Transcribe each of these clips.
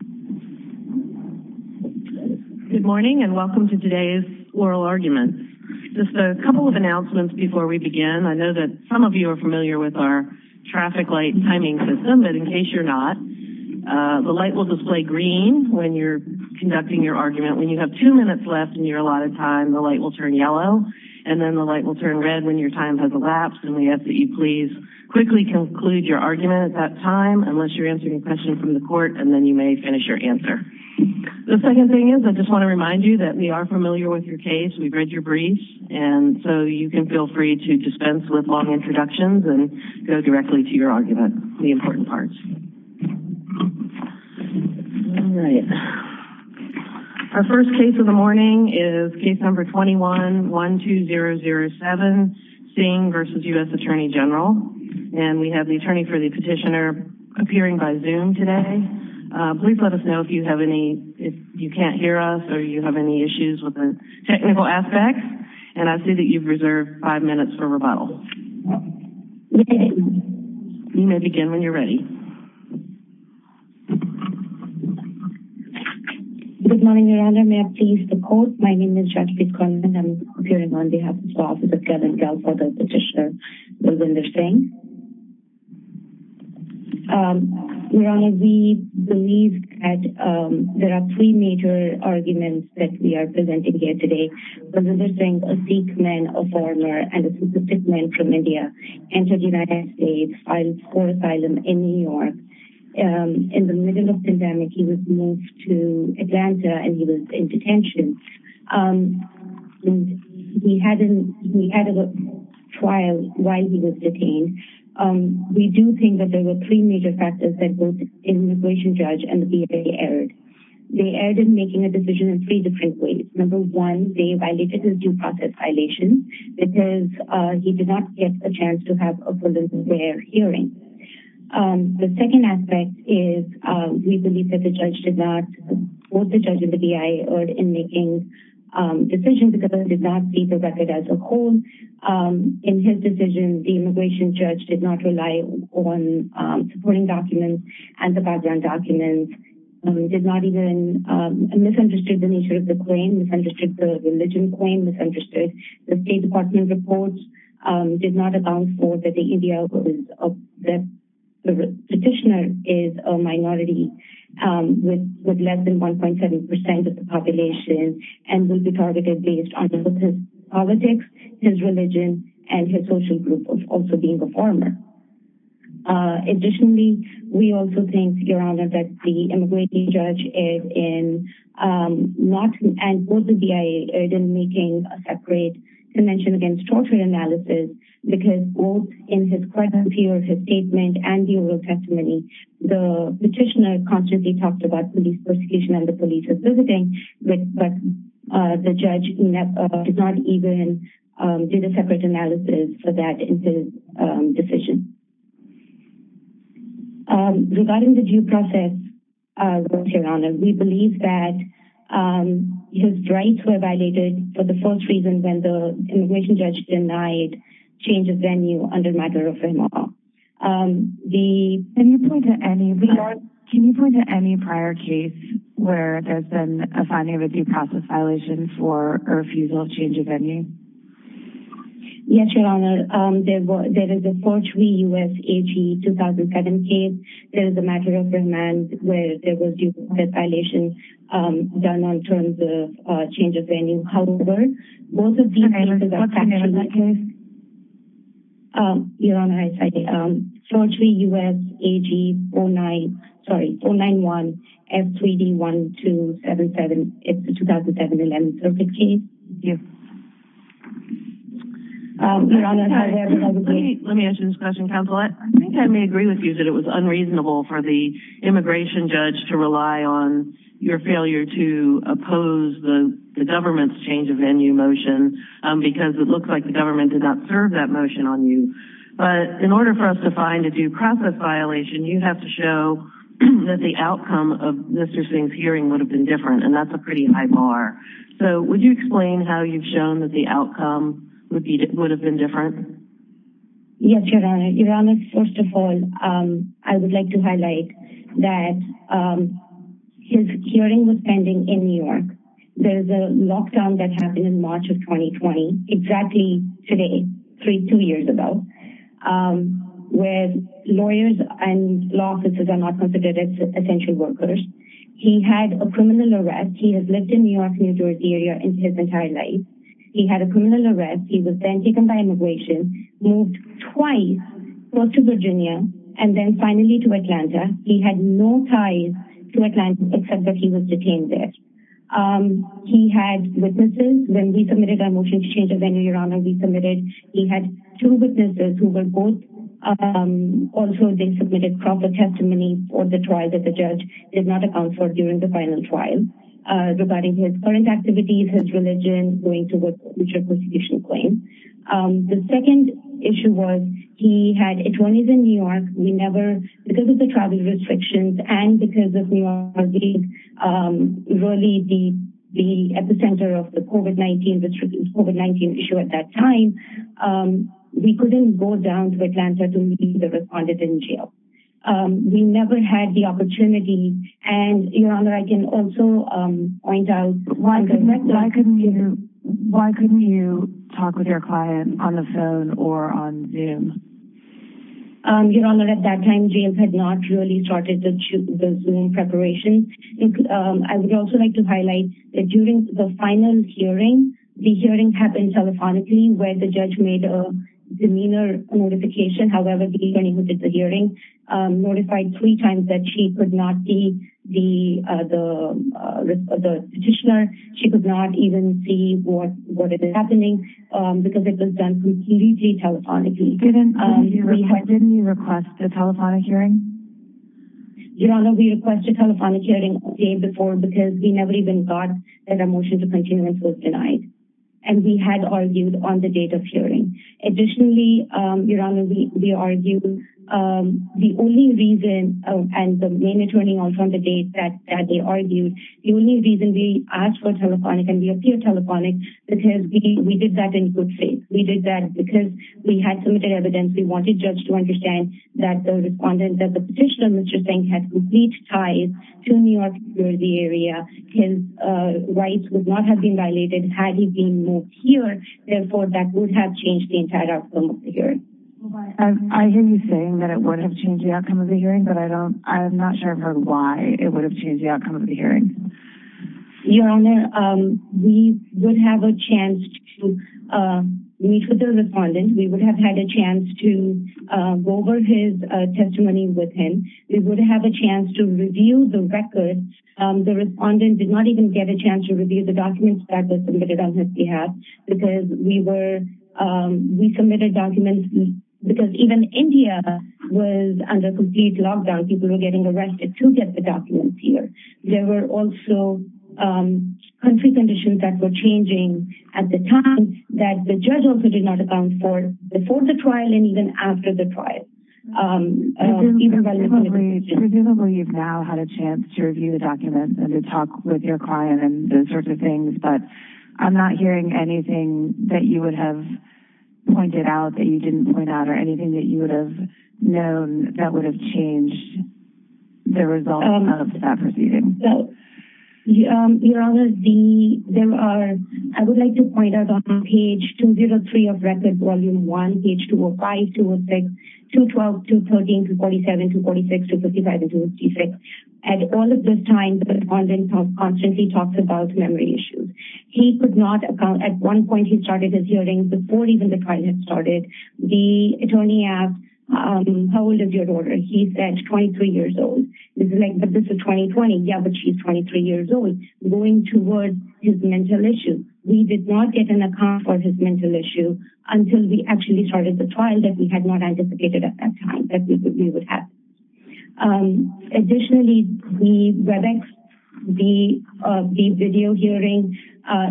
Good morning and welcome to today's oral argument. Just a couple of announcements before we begin. I know that some of you are familiar with our traffic light timing system, but in case you're not, the light will display green when you're conducting your argument. When you have two minutes left and you're a lot of time, the light will turn yellow and then the light will turn red when your time has elapsed and we ask that you please quickly conclude your argument at that finish your answer. The second thing is I just want to remind you that we are familiar with your case. We've read your briefs and so you can feel free to dispense with long introductions and go directly to your argument, the important parts. Our first case of the morning is case number 21-12007, Singh v. U.S. Attorney General and we have the attorney for the petitioner appearing by Please let us know if you have any, if you can't hear us or you have any issues with the technical aspects and I see that you've reserved five minutes for rebuttal. You may begin when you're ready. Good morning, Your Honor. May I please report? My name is Jacqueline Cronin and I'm appearing on behalf of the There are three major arguments that we are presenting here today. Remember Singh, a Sikh man, a foreigner, and a specific man from India, entered the United States, filed for asylum in New York. In the middle of the pandemic, he was moved to Atlanta and he was in detention. We had a trial while he was detained. We do think that there were three major factors that both the immigration judge and the BIA erred. They erred in making a decision in three different ways. Number one, they violated his due process violations because he did not get a chance to have a full and fair hearing. The second aspect is we believe that the judge did not, both the judge and the BIA erred in making decisions because they did not see the record as a whole. In his decision, the immigration judge did not rely on supporting documents and the Bajrang documents, did not even misunderstand the nature of the claim, misunderstood the religion claim, misunderstood the State Department reports, did not account for that the Indian petitioner is a minority with less than 1.7 percent of the population and will be targeted based on his politics, his religion, and his social group of also being a former. Additionally, we also think, Your Honor, that the immigration judge and both the BIA erred in making a separate convention against torture analysis because both in his question period, his statement, and the oral testimony, the petitioner constantly talked about police persecution and the police were visiting, but the judge did not even do the separate analysis for that in his decision. Regarding the due process, Your Honor, we believe that his rights were violated for the first reason when the immigration judge denied change of venue under Madhura Firmawala. Can you point to any prior case where there's been a finding of a due process violation for refusal of change of venue? Yes, Your Honor. There is a 43 U.S. AG 2007 case. There is a Madhura Firmawala case where there was a due process violation done on terms of change of venue. However, both of these cases are factual. What's the name of that case? Your Honor, I'm sorry. 43 U.S. AG 491 F3D1277. It's the 2007-11 circuit case. Thank you. Your Honor, I'm sorry. Let me answer this question, counsel. I think I may agree with you that it was unreasonable for the immigration judge to rely on your failure to oppose the government's change of venue motion because it looks like the government did not serve that motion on you. But in order for us to find a due process violation, you have to show that the outcome of Mr. Singh's hearing would have been different, and that's a pretty high bar. So would you explain how you've shown that the outcome would have been different? Yes, Your Honor. Your Honor, first of all, I would like to highlight that his hearing was pending in New York. There's a lockdown that happened in March of 2020, exactly today, three, two years ago, where lawyers and law officers are not considered essential workers. He had a criminal arrest. He has lived in New York, New Jersey area his entire life. He had a criminal arrest. He was then taken by immigration, moved twice, first to Virginia, and then finally to Atlanta. He had no ties to Atlanta except that he was detained there. He had witnesses. When we submitted our motion to change the venue, Your Honor, we submitted, he had two witnesses who were both also they submitted proper testimony for the trial that the judge did not account for during the final trial regarding his current activities, his religion, going towards future prosecution claims. The second issue was he had attorneys in New York. We never, because of the travel restrictions and because of New York being really the epicenter of the COVID-19 issue at that time, we couldn't go down to Atlanta to meet the respondent in jail. We never had the opportunity. Your Honor, I can also point out. Why couldn't you talk with your client on the phone or on Zoom? Your Honor, at that time, James had not really started the Zoom preparation. I would also like to highlight that during the final hearing, the hearing happened telephonically where the judge made a demeanor notification. However, the attorney who did the hearing notified three times that she could not see the petitioner. She could not even see what was happening because it was done completely telephonically. Didn't you request a telephonic hearing? Your Honor, we requested a telephonic hearing the day before because we never even thought that a motion to continue was denied. We had argued on the date of hearing. Additionally, Your Honor, we argued. The only reason, and the main attorney also on the date that they argued, the only reason we asked for telephonic and we appealed telephonic because we did that in good faith. We did that because we had submitted evidence. We wanted the judge to understand that the respondent of the petitioner, Mr. Singh, had complete ties to the New York City area. His rights would not have been violated had he been moved here. Therefore, that would have changed the entire outcome of the hearing. I hear you saying that it would have changed the outcome of the hearing, but I'm not sure why it would have changed the outcome of the hearing. Your Honor, we would have a chance to meet with the respondent. We would have had a chance to go over his testimony with him. We would have a chance to review the records. The respondent did not even get a chance to review the documents that were submitted on his behalf. We submitted documents because even India was under complete lockdown. People were getting arrested to get the documents here. There were also country conditions that were changing at the time that the judge also did not account for before the trial and even after the trial. Presumably, you've now had a chance to review the documents and to talk with your client and those sorts of things. I'm not hearing anything that you would have pointed out that you didn't point out or anything that you would have known that would have changed the result of that proceeding. Your Honor, I would like to point out on page 203 of Record Volume 1, page 205, 206, 212, 213, 247, 246, 255, and 256, at all of those times, the respondent constantly talked about memory issues. He could not account. At one point, he started his hearing before even the trial had started. The attorney asked, how old is your daughter? He said, 23 years old. This is 2020. Yeah, but she's 23 years old. Going towards his mental issue, we did not get an account for his mental issue until we actually started the trial that we had not anticipated at that time that we would have. Additionally, the WebEx, the video hearing,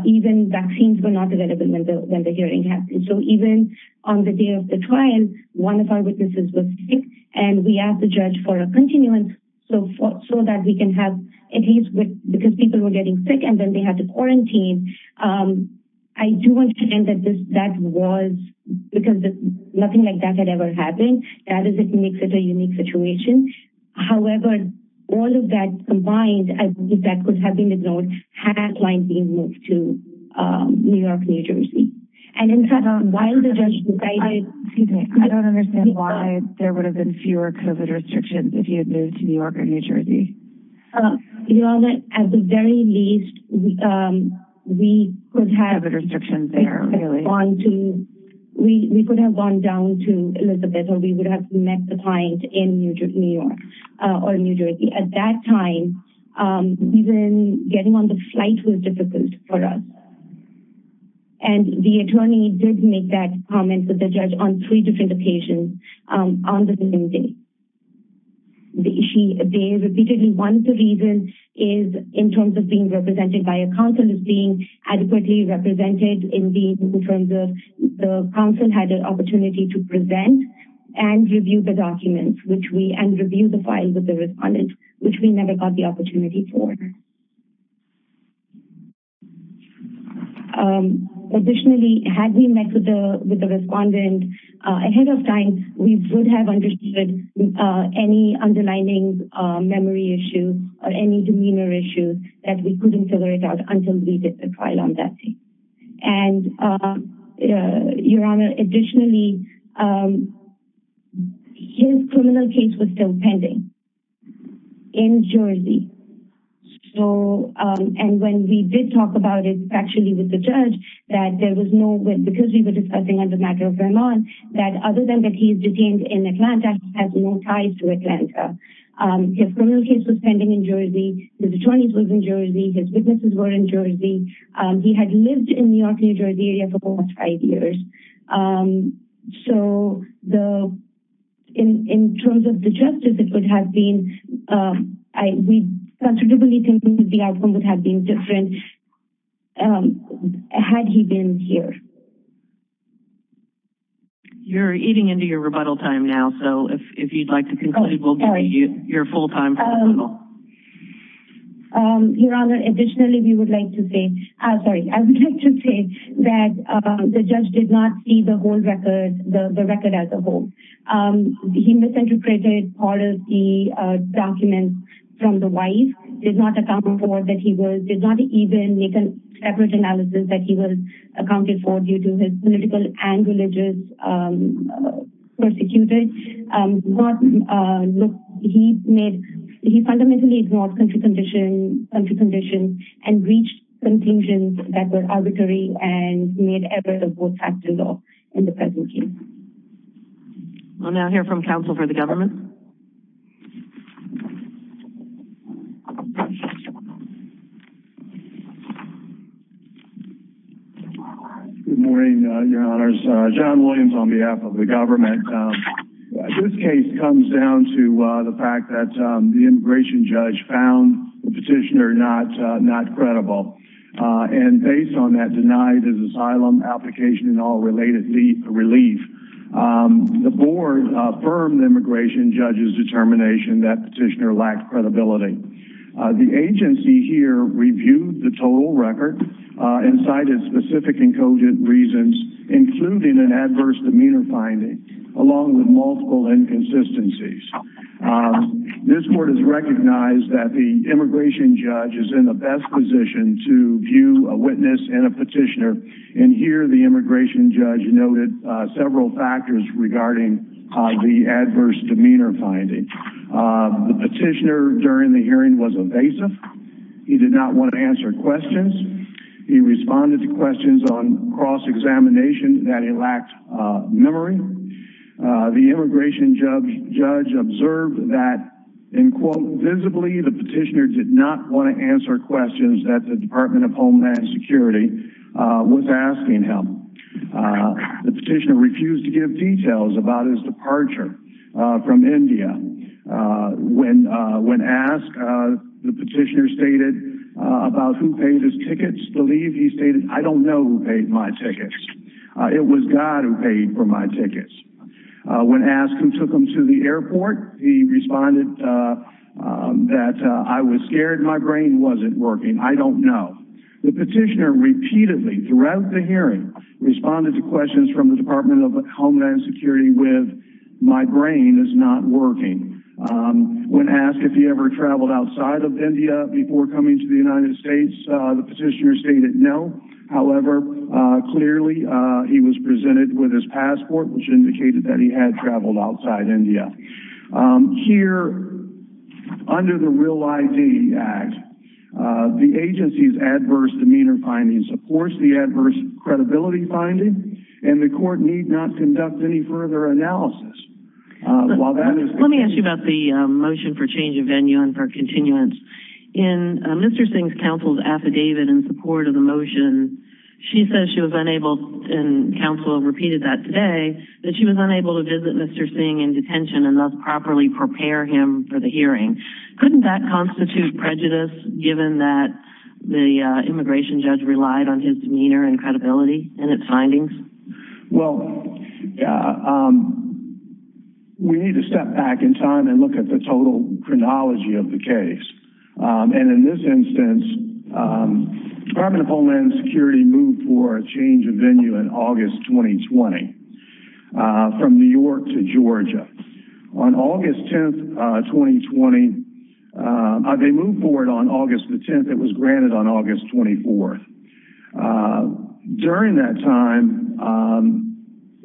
even vaccines were not available when the hearing happened. So even on the day of the trial, one of our witnesses was sick, and we asked the judge for a continuance so that we can have, at least because people were getting sick and then they had to quarantine. I do understand that that was because nothing like that had ever happened. That makes it a unique situation. However, all of that combined, I think that could have been ignored, had that client been moved to New York, New Jersey. And in fact, while the judge decided... Excuse me. I don't understand why there would have been fewer COVID restrictions if you had moved to New York or New Jersey. Your Honor, at the very least, we could have... COVID restrictions there, really. We could have gone down to Elizabeth or we would have met the client in New York or New Jersey. At that time, even getting on the flight was difficult for us. And the attorney did make that comment with the judge on three different occasions on the same day. Repeatedly, one of the reasons is, in terms of being represented by a counsel, is being adequately represented. Indeed, in terms of the counsel had an opportunity to present and review the document and review the file with the respondent, which we never got the opportunity for. Additionally, had we met with the respondent ahead of time, we would have understood any underlying memory issues or any demeanor issues that we couldn't figure out until we did the trial on that case. Your Honor, additionally, his criminal case was still pending in Jersey. And when we did talk about it factually with the judge, that there was no... Because we were discussing on the matter of Vermont, that other than that he is detained in Atlanta, he has no ties to Atlanta. His criminal case was pending in Jersey. His attorneys were in Jersey. His witnesses were in Jersey. He had lived in New York, New Jersey for almost five years. So, in terms of the justice, it would have been... We considerably think the outcome would have been different had he been here. You're eating into your rebuttal time now, so if you'd like to conclude, we'll give you your full time for rebuttal. Your Honor, additionally, we would like to say... Sorry, I would like to say that the judge did not see the whole record, the record as a whole. He misinterpreted all of the documents from the wife. Did not account for that he was... Did not even make a separate analysis that he was accounted for due to his political and religious persecuted. He made... He fundamentally ignored country conditions and breached contingents that were arbitrary and made evidence of what happened in the present case. We'll now hear from counsel for the government. Good morning, Your Honors. John Williams on behalf of the government. This case comes down to the fact that the immigration judge found the petitioner not credible. And based on that denied as asylum application and all related relief, the board affirmed the immigration judge's determination that petitioner lacked credibility. The agency here reviewed the total record and cited specific encoded reasons, including an adverse demeanor finding, along with multiple inconsistencies. This board has recognized that the immigration judge is in the best position to view a witness and a petitioner. And here the immigration judge noted several factors regarding the adverse demeanor finding. The petitioner during the hearing was evasive. He did not want to answer questions. He responded to questions on cross-examination that he lacked memory. The immigration judge observed that, in quote, visibly, the petitioner did not want to answer questions that the Department of Homeland Security was asking him. The petitioner refused to give details about his departure from India. When asked, the petitioner stated about who paid his tickets to leave. He stated, I don't know who paid my tickets. It was God who paid for my tickets. When asked who took him to the airport, he responded that I was scared my brain wasn't working. I don't know. The petitioner repeatedly, throughout the hearing, responded to questions from the Department of Homeland Security with, my brain is not working. When asked if he ever traveled outside of India before coming to the United States, the petitioner stated no. However, clearly, he was presented with his passport, which indicated that he had traveled outside India. Here, under the Real ID Act, the agency's adverse demeanor finding supports the adverse credibility finding, and the court need not conduct any further analysis. Let me ask you about the motion for change of venue and for continuance. In Mr. Singh's counsel's affidavit in support of the motion, she says she was unable, and counsel repeated that today, that she was unable to visit Mr. Singh in detention and thus properly prepare him for the hearing. Couldn't that constitute prejudice given that the immigration judge relied on his demeanor and credibility in its findings? Well, we need to step back in time and look at the total chronology of the case. In this instance, the Department of Homeland Security moved for a change of venue in August 2020 from New York to Georgia. On August 10th, 2020, they moved forward on August 10th. It was granted on August 24th. During that time,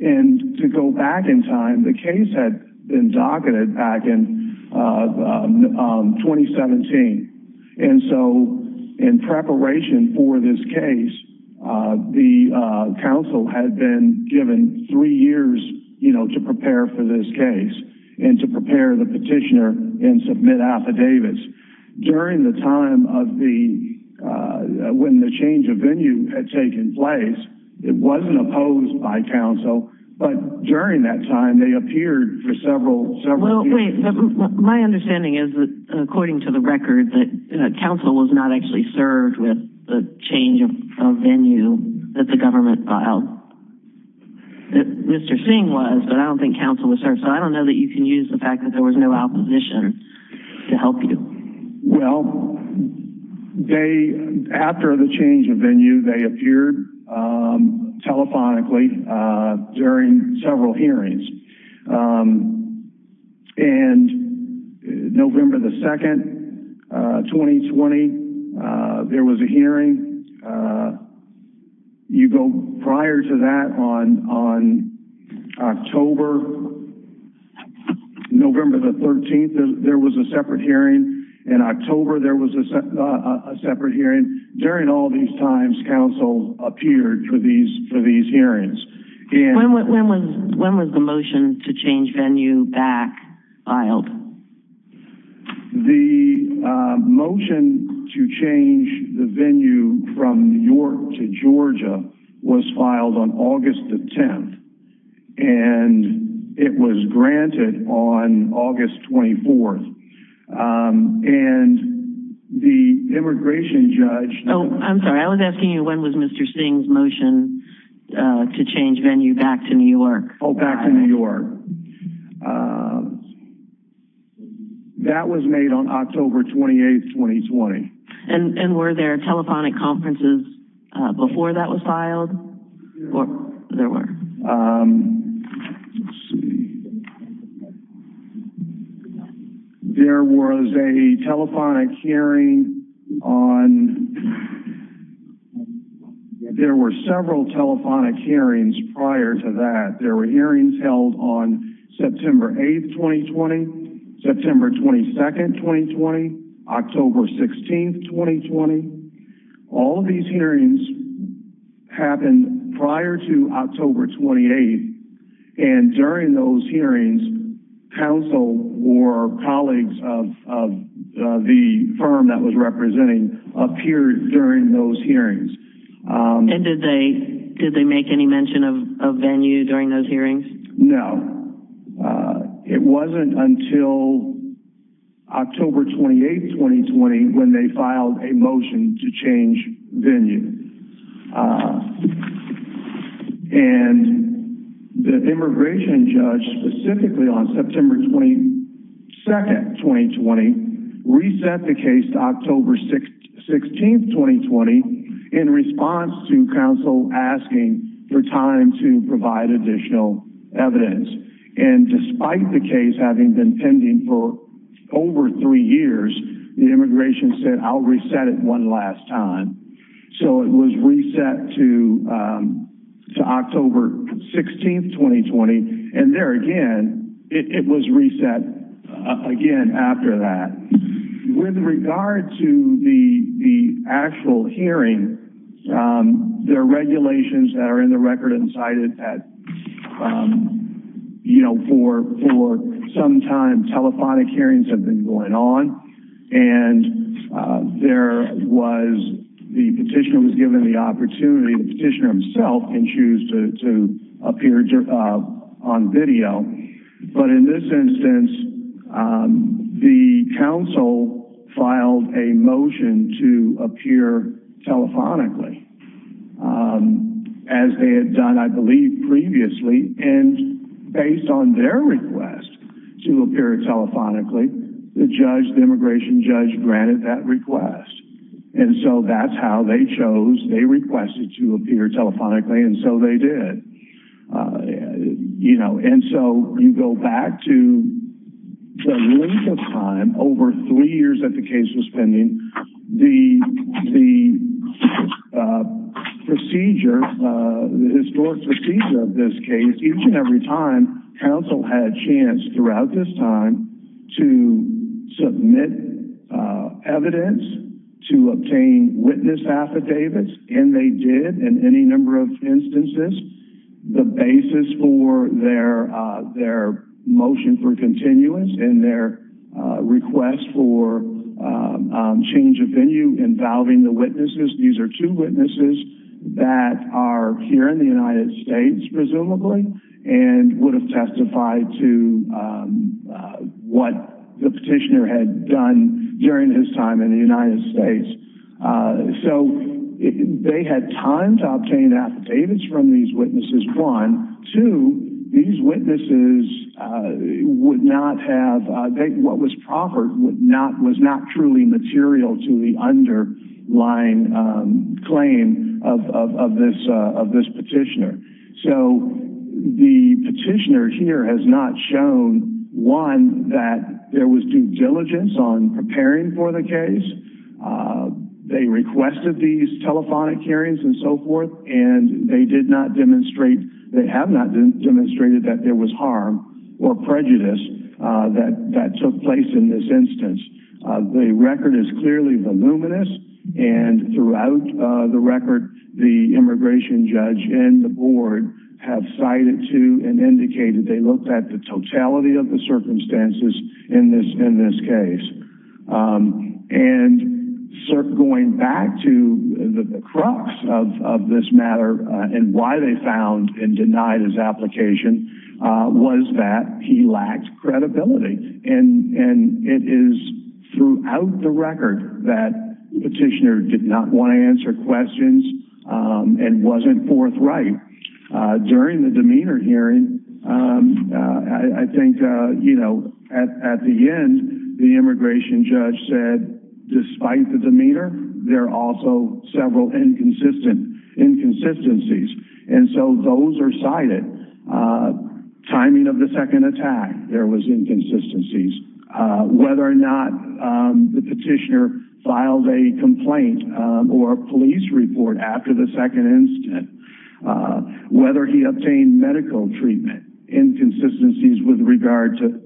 and to go back in time, the case had been docketed back in 2017. In preparation for this case, the counsel had been given three years to prepare for this case and to prepare the petitioner and submit affidavits. During the time when the change of venue had taken place, it wasn't opposed by counsel, but during that time, they appeared for several years. My understanding is that, according to the record, that counsel was not actually served with the change of venue that the government filed. Mr. Singh was, but I don't think counsel was served, so I don't know that you can use the fact that there was no opposition to help you. Well, after the change of venue, they appeared telephonically during several hearings. On November 2nd, 2020, there was a hearing. Prior to that, on November 13th, there was a separate hearing. In October, there was a separate hearing. During all these times, counsel appeared for these hearings. When was the motion to change venue back filed? The motion to change the venue from New York to Georgia was filed on August 10th, and it was granted on August 24th. When was Mr. Singh's motion to change venue back to New York? Back to New York. That was made on October 28th, 2020. Were there telephonic conferences before that was filed? There were. Let's see. There was a telephonic hearing on... There were several telephonic hearings prior to that. There were hearings held on September 8th, 2020, September 22nd, 2020, October 16th, 2020. All of these hearings happened prior to October 28th, and during those hearings, counsel or colleagues of the firm that was representing appeared during those hearings. Did they make any mention of venue during those hearings? No. It wasn't until October 28th, 2020, when they filed a motion to change venue. The immigration judge, specifically on September 22nd, 2020, reset the case to October 16th, 2020, in response to counsel asking for time to provide additional evidence. Despite the case having been pending for over three years, the immigration said, I'll reset it one last time. It was reset to October 16th, 2020, and there again, it was reset again after that. With regard to the actual hearing, there are regulations that are in the record and cited that for some time, telephonic hearings have been going on. The petitioner was given the opportunity, the petitioner himself can choose to appear on video. In this instance, the counsel filed a motion to appear telephonically, as they had done, I believe, previously. Based on their request to appear telephonically, the immigration judge granted that request. That's how they chose, they requested to appear telephonically, and so they did. You know, and so you go back to the length of time, over three years that the case was pending, the procedure, the historic procedure of this case, each and every time, counsel had a chance throughout this time to submit evidence, to obtain witness affidavits, and they did in any number of instances. The basis for their motion for continuance and their request for change of venue involving the witnesses, these are two witnesses that are here in the United States, presumably, and would have testified to what the petitioner had done during his time in the United States. So they had time to obtain affidavits from these witnesses, one. Two, these witnesses would not have, what was proffered was not truly material to the underlying claim of this petitioner. So the petitioner here has not shown, one, that there was due diligence on preparing for the case. They requested these telephonic hearings and so forth, and they did not demonstrate, they have not demonstrated that there was harm or prejudice that took place in this instance. The record is clearly voluminous, and throughout the record, the immigration judge and the board have cited to and indicated they looked at the totality of the circumstances in this case. And going back to the crux of this matter and why they found and denied his application was that he lacked credibility. And it is throughout the record that the petitioner did not want to answer questions and wasn't forthright. During the demeanor hearing, I think, you know, at the end, the immigration judge said, despite the demeanor, there are also several inconsistencies. And so those are cited. Timing of the second attack, there was inconsistencies. Whether or not the petitioner filed a complaint or a police report after the second incident, whether he obtained medical treatment, inconsistencies with regard to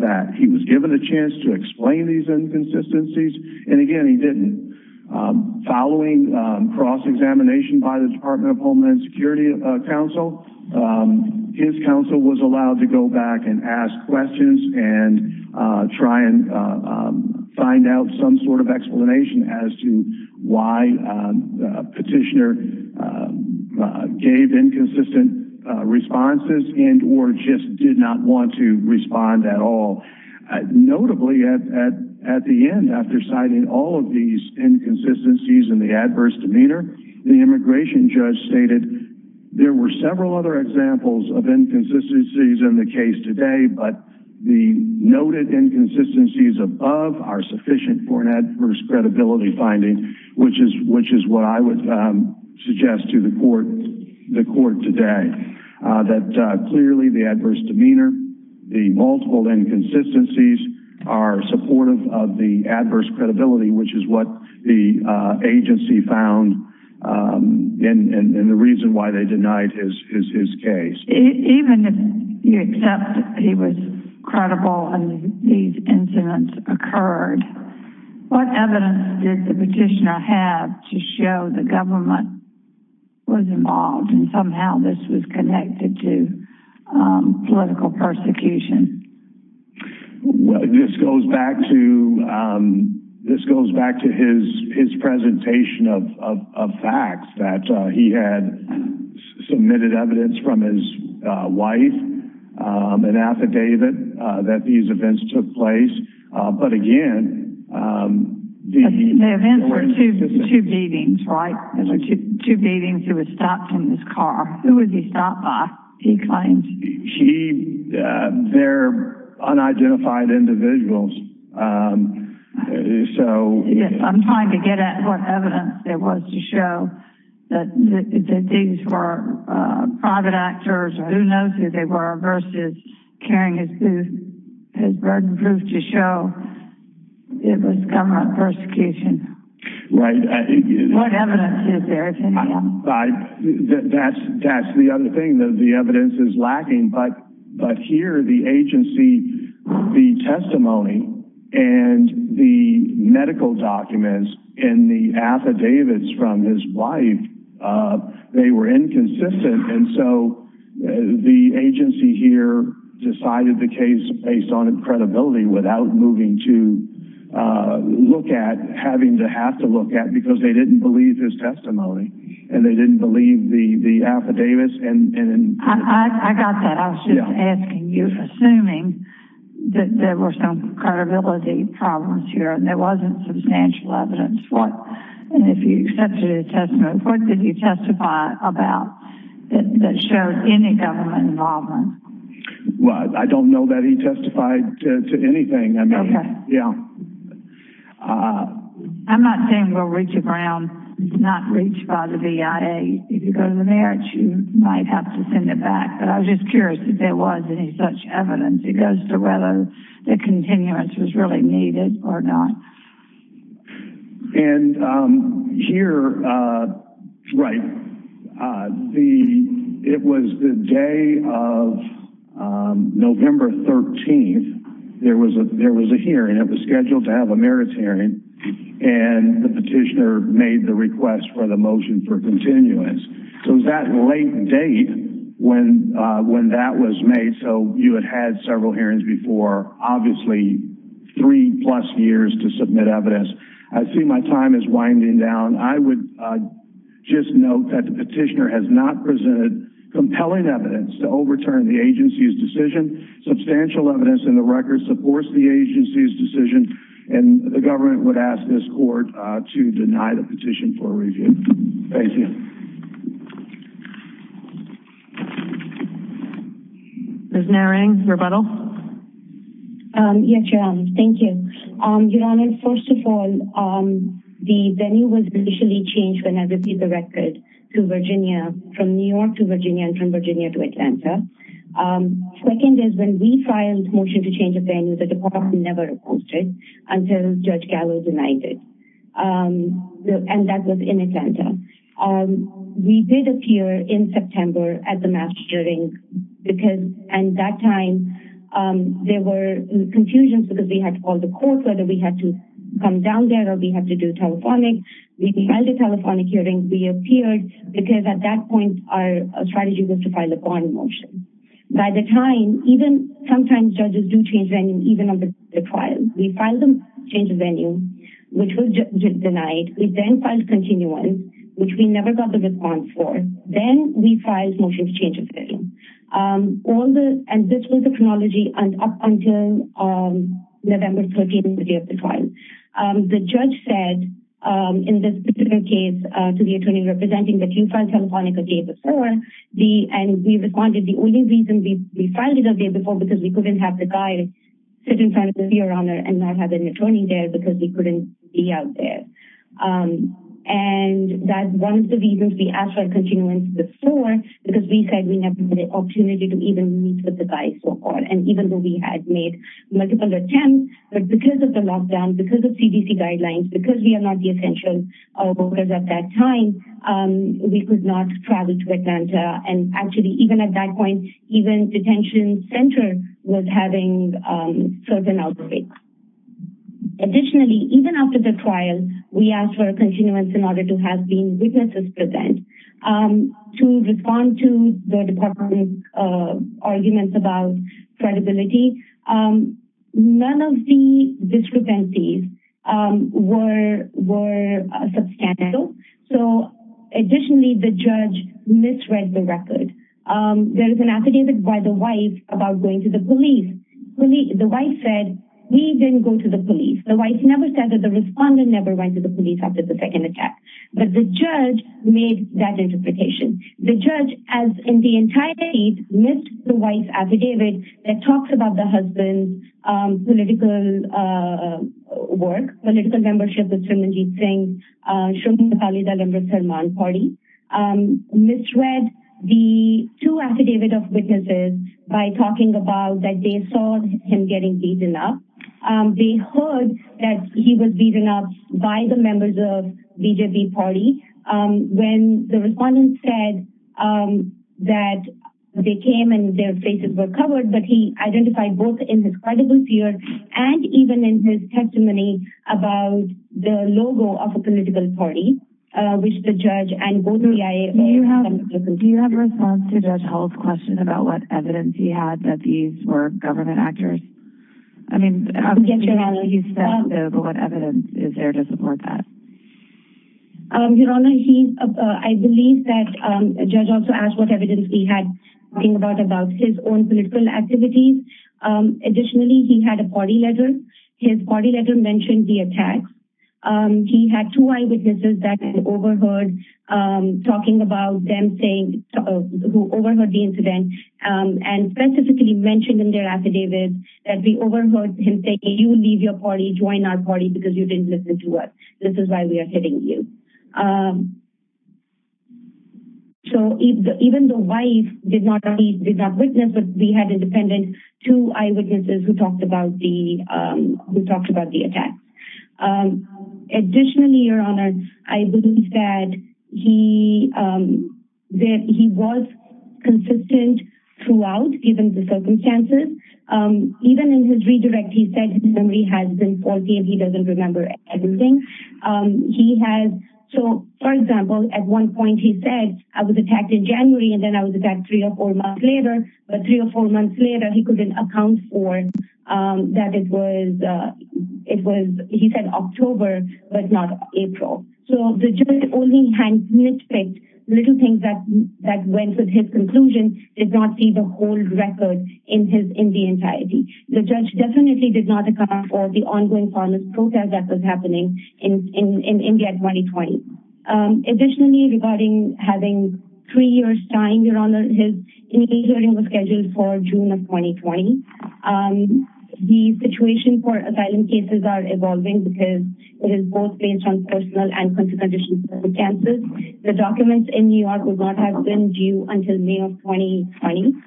that. He was given a chance to explain these inconsistencies, and again, he didn't. Following cross-examination by the Department of Homeland Security counsel, his counsel was allowed to go back and ask questions and try and find out some sort of explanation as to why the petitioner gave inconsistent responses and or just did not want to respond at all. Notably, at the end, after citing all of these inconsistencies and the adverse demeanor, the immigration judge stated there were several other examples of inconsistencies in the case today, but the noted inconsistencies above are sufficient for an adverse credibility finding, which is what I would suggest to the court today. That clearly the adverse demeanor, the multiple inconsistencies are supportive of the adverse credibility, which is what the agency found and the reason why they denied his case. Even if you accept he was credible and these incidents occurred, what evidence did the petitioner have to show the government was involved and somehow this was connected to political persecution? Well, this goes back to his presentation of facts that he had submitted evidence from his wife, an affidavit that these events took place, but again... The events were two beatings, right? Two beatings. He was stopped in his car. Who was he stopped by, he claims. They're unidentified individuals, so... I'm trying to get at what evidence there was to show that these were private actors or who knows who they were versus carrying his burden proof to show it was government persecution. Right. What evidence is there to help? That's the other thing. The evidence is lacking, but here the agency, the testimony and the medical documents and the affidavits from his wife, they were inconsistent. And so the agency here decided the case based on credibility without moving to look at, having to have to look at because they didn't believe his testimony and they didn't believe the affidavits. I got that. I was just asking you assuming that there were some credibility problems here and there wasn't substantial evidence. And if you accepted his testimony, what did you testify about that showed any government involvement? Well, I don't know that he testified to anything. I'm not saying we'll reach a ground. It's not reached by the BIA. If you go to the merits, you might have to send it back. But I was just curious if there was any such evidence. It goes to whether the continuance was really needed or not. And here, it was the day of November 13th. There was a hearing. It was scheduled to have a merits hearing and the petitioner made the request for the motion for continuance. So it was that late date when that was made. So you had had several hearings before, obviously three plus years to submit evidence. I see my time is winding down. I would just note that the petitioner has not presented compelling evidence to overturn the agency's decision. Substantial evidence in the record supports the agency's decision and the government would ask this court to deny the petition for review. Thank you. Ms. Narang, rebuttal? Yes, Your Honor. Thank you. Your Honor, first of all, the venue was initially changed when I received the record from New York to Virginia and from Virginia to Atlanta. Second is when we filed a motion to change the venue, the department never opposed it until Judge Gallo denied it. And that was in Atlanta. We did appear in September at the mass hearing and at that time there were confusions because we had to call the court whether we had to come down there or we had to do telephonic. We filed a telephonic hearing. We appeared because at that point our strategy was to file a bond motion. By the time, even sometimes judges do change venue even on the trial. We filed a motion to change the venue, which was denied. We then filed continuance, which we never got the response for. Then we filed a motion to change the venue. And this was the chronology up until November 13th, the day of the trial. The judge said, in this particular case, to the attorney representing that you filed telephonic the day before, and we responded, the only reason we filed it the day before was because we couldn't have the guy sit in front of you, Your Honor, and not have an attorney there because we couldn't be out there. And that's one of the reasons we asked for continuance before because we said we never had the opportunity to even meet with the guy so far. And even though we had made multiple attempts, but because of the lockdown, because of CDC guidelines, because we are not the essential workers at that time, we could not travel to Atlanta. And actually, even at that point, even the detention center was having certain outbreaks. Additionally, even after the trial, we asked for continuance in order to have witnesses present to respond to the department's arguments about credibility. None of the discrepancies were substantial. Additionally, the judge misread the record. There is an affidavit by the wife about going to the police. The wife said, we didn't go to the police. The wife never said that the respondent never went to the police after the second attack. But the judge made that interpretation. The judge, as in the entire case, missed the wife's affidavit that talks about the husband's political work, political membership with Srimanjit Singh, Shruti Nepali Dalai Lama's Salman party. Misread the two affidavit of witnesses by talking about that they saw him getting beaten up. They heard that he was beaten up by the members of the BJP party. When the respondent said that they came and their faces were covered, but he identified both in his credible fear and even in his testimony about the logo of a political party, which the judge and both BIA members... Do you have a response to Judge Hull's question about what evidence he had that these were government actors? Yes, Your Honor. What evidence is there to support that? Your Honor, I believe that the judge also asked what evidence he had about his own political activities. Additionally, he had a party letter. His party letter mentioned the attacks. He had two eyewitnesses that he overheard talking about them saying...who overheard the incident and specifically mentioned in their affidavit that they overheard him say, You leave your party. Join our party because you didn't listen to us. This is why we are hitting you. So even though the wife did not witness, we had independent two eyewitnesses who talked about the attacks. Additionally, Your Honor, I believe that he was consistent throughout, given the circumstances. Even in his redirect, he said his memory has been faulty and he doesn't remember everything. So, for example, at one point he said, I was attacked in January and then I was attacked three or four months later. But three or four months later, he couldn't account for that it was, he said October, but not April. So the judge only had nitpicks, little things that went with his conclusion, did not see the whole record in the entirety. The judge definitely did not account for the ongoing violence that was happening in India in 2020. Additionally, regarding having three years time, Your Honor, his hearing was scheduled for June of 2020. The situation for asylum cases are evolving because it is both based on personal and confidential circumstances. The documents in New York would not have been due until May of 2020.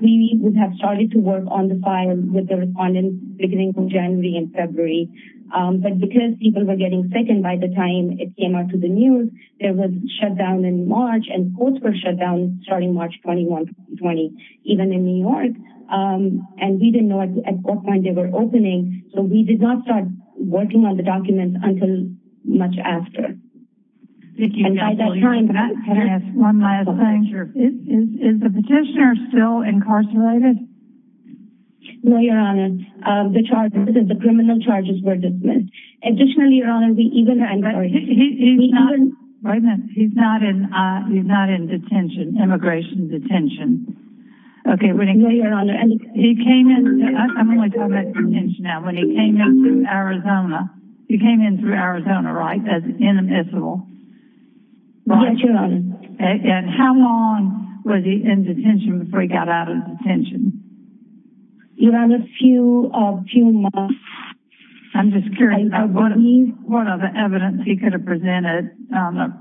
We would have started to work on the file with the respondents beginning in January and February. But because people were getting sick and by the time it came out to the news, it was shut down in March. And courts were shut down starting March 21, 2020, even in New York. And we didn't know at what point they were opening. So we did not start working on the documents until much after. And by that time... No, Your Honor. The charges, the criminal charges were dismissed. Additionally, Your Honor, we even... He's not in detention, immigration detention. No, Your Honor. I'm only talking about detention now. When he came in through Arizona, he came in through Arizona, right? That's inadmissible. Yes, Your Honor. And how long was he in detention before he got out of detention? Your Honor, a few months. I'm just curious what other evidence he could have presented on a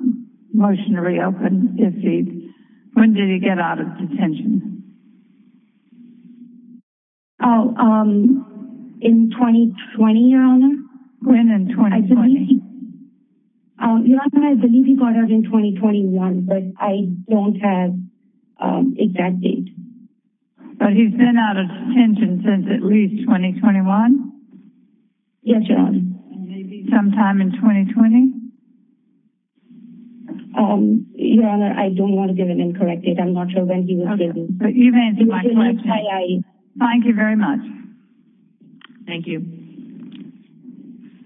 motion to reopen if he... When did he get out of detention? Oh, in 2020, Your Honor. When in 2020? Your Honor, I believe he got out in 2021, but I don't have an exact date. But he's been out of detention since at least 2021? Yes, Your Honor. And maybe sometime in 2020? Your Honor, I don't want to give an incorrect date. I'm not sure when he was given. But you've answered my question. Thank you very much. Thank you.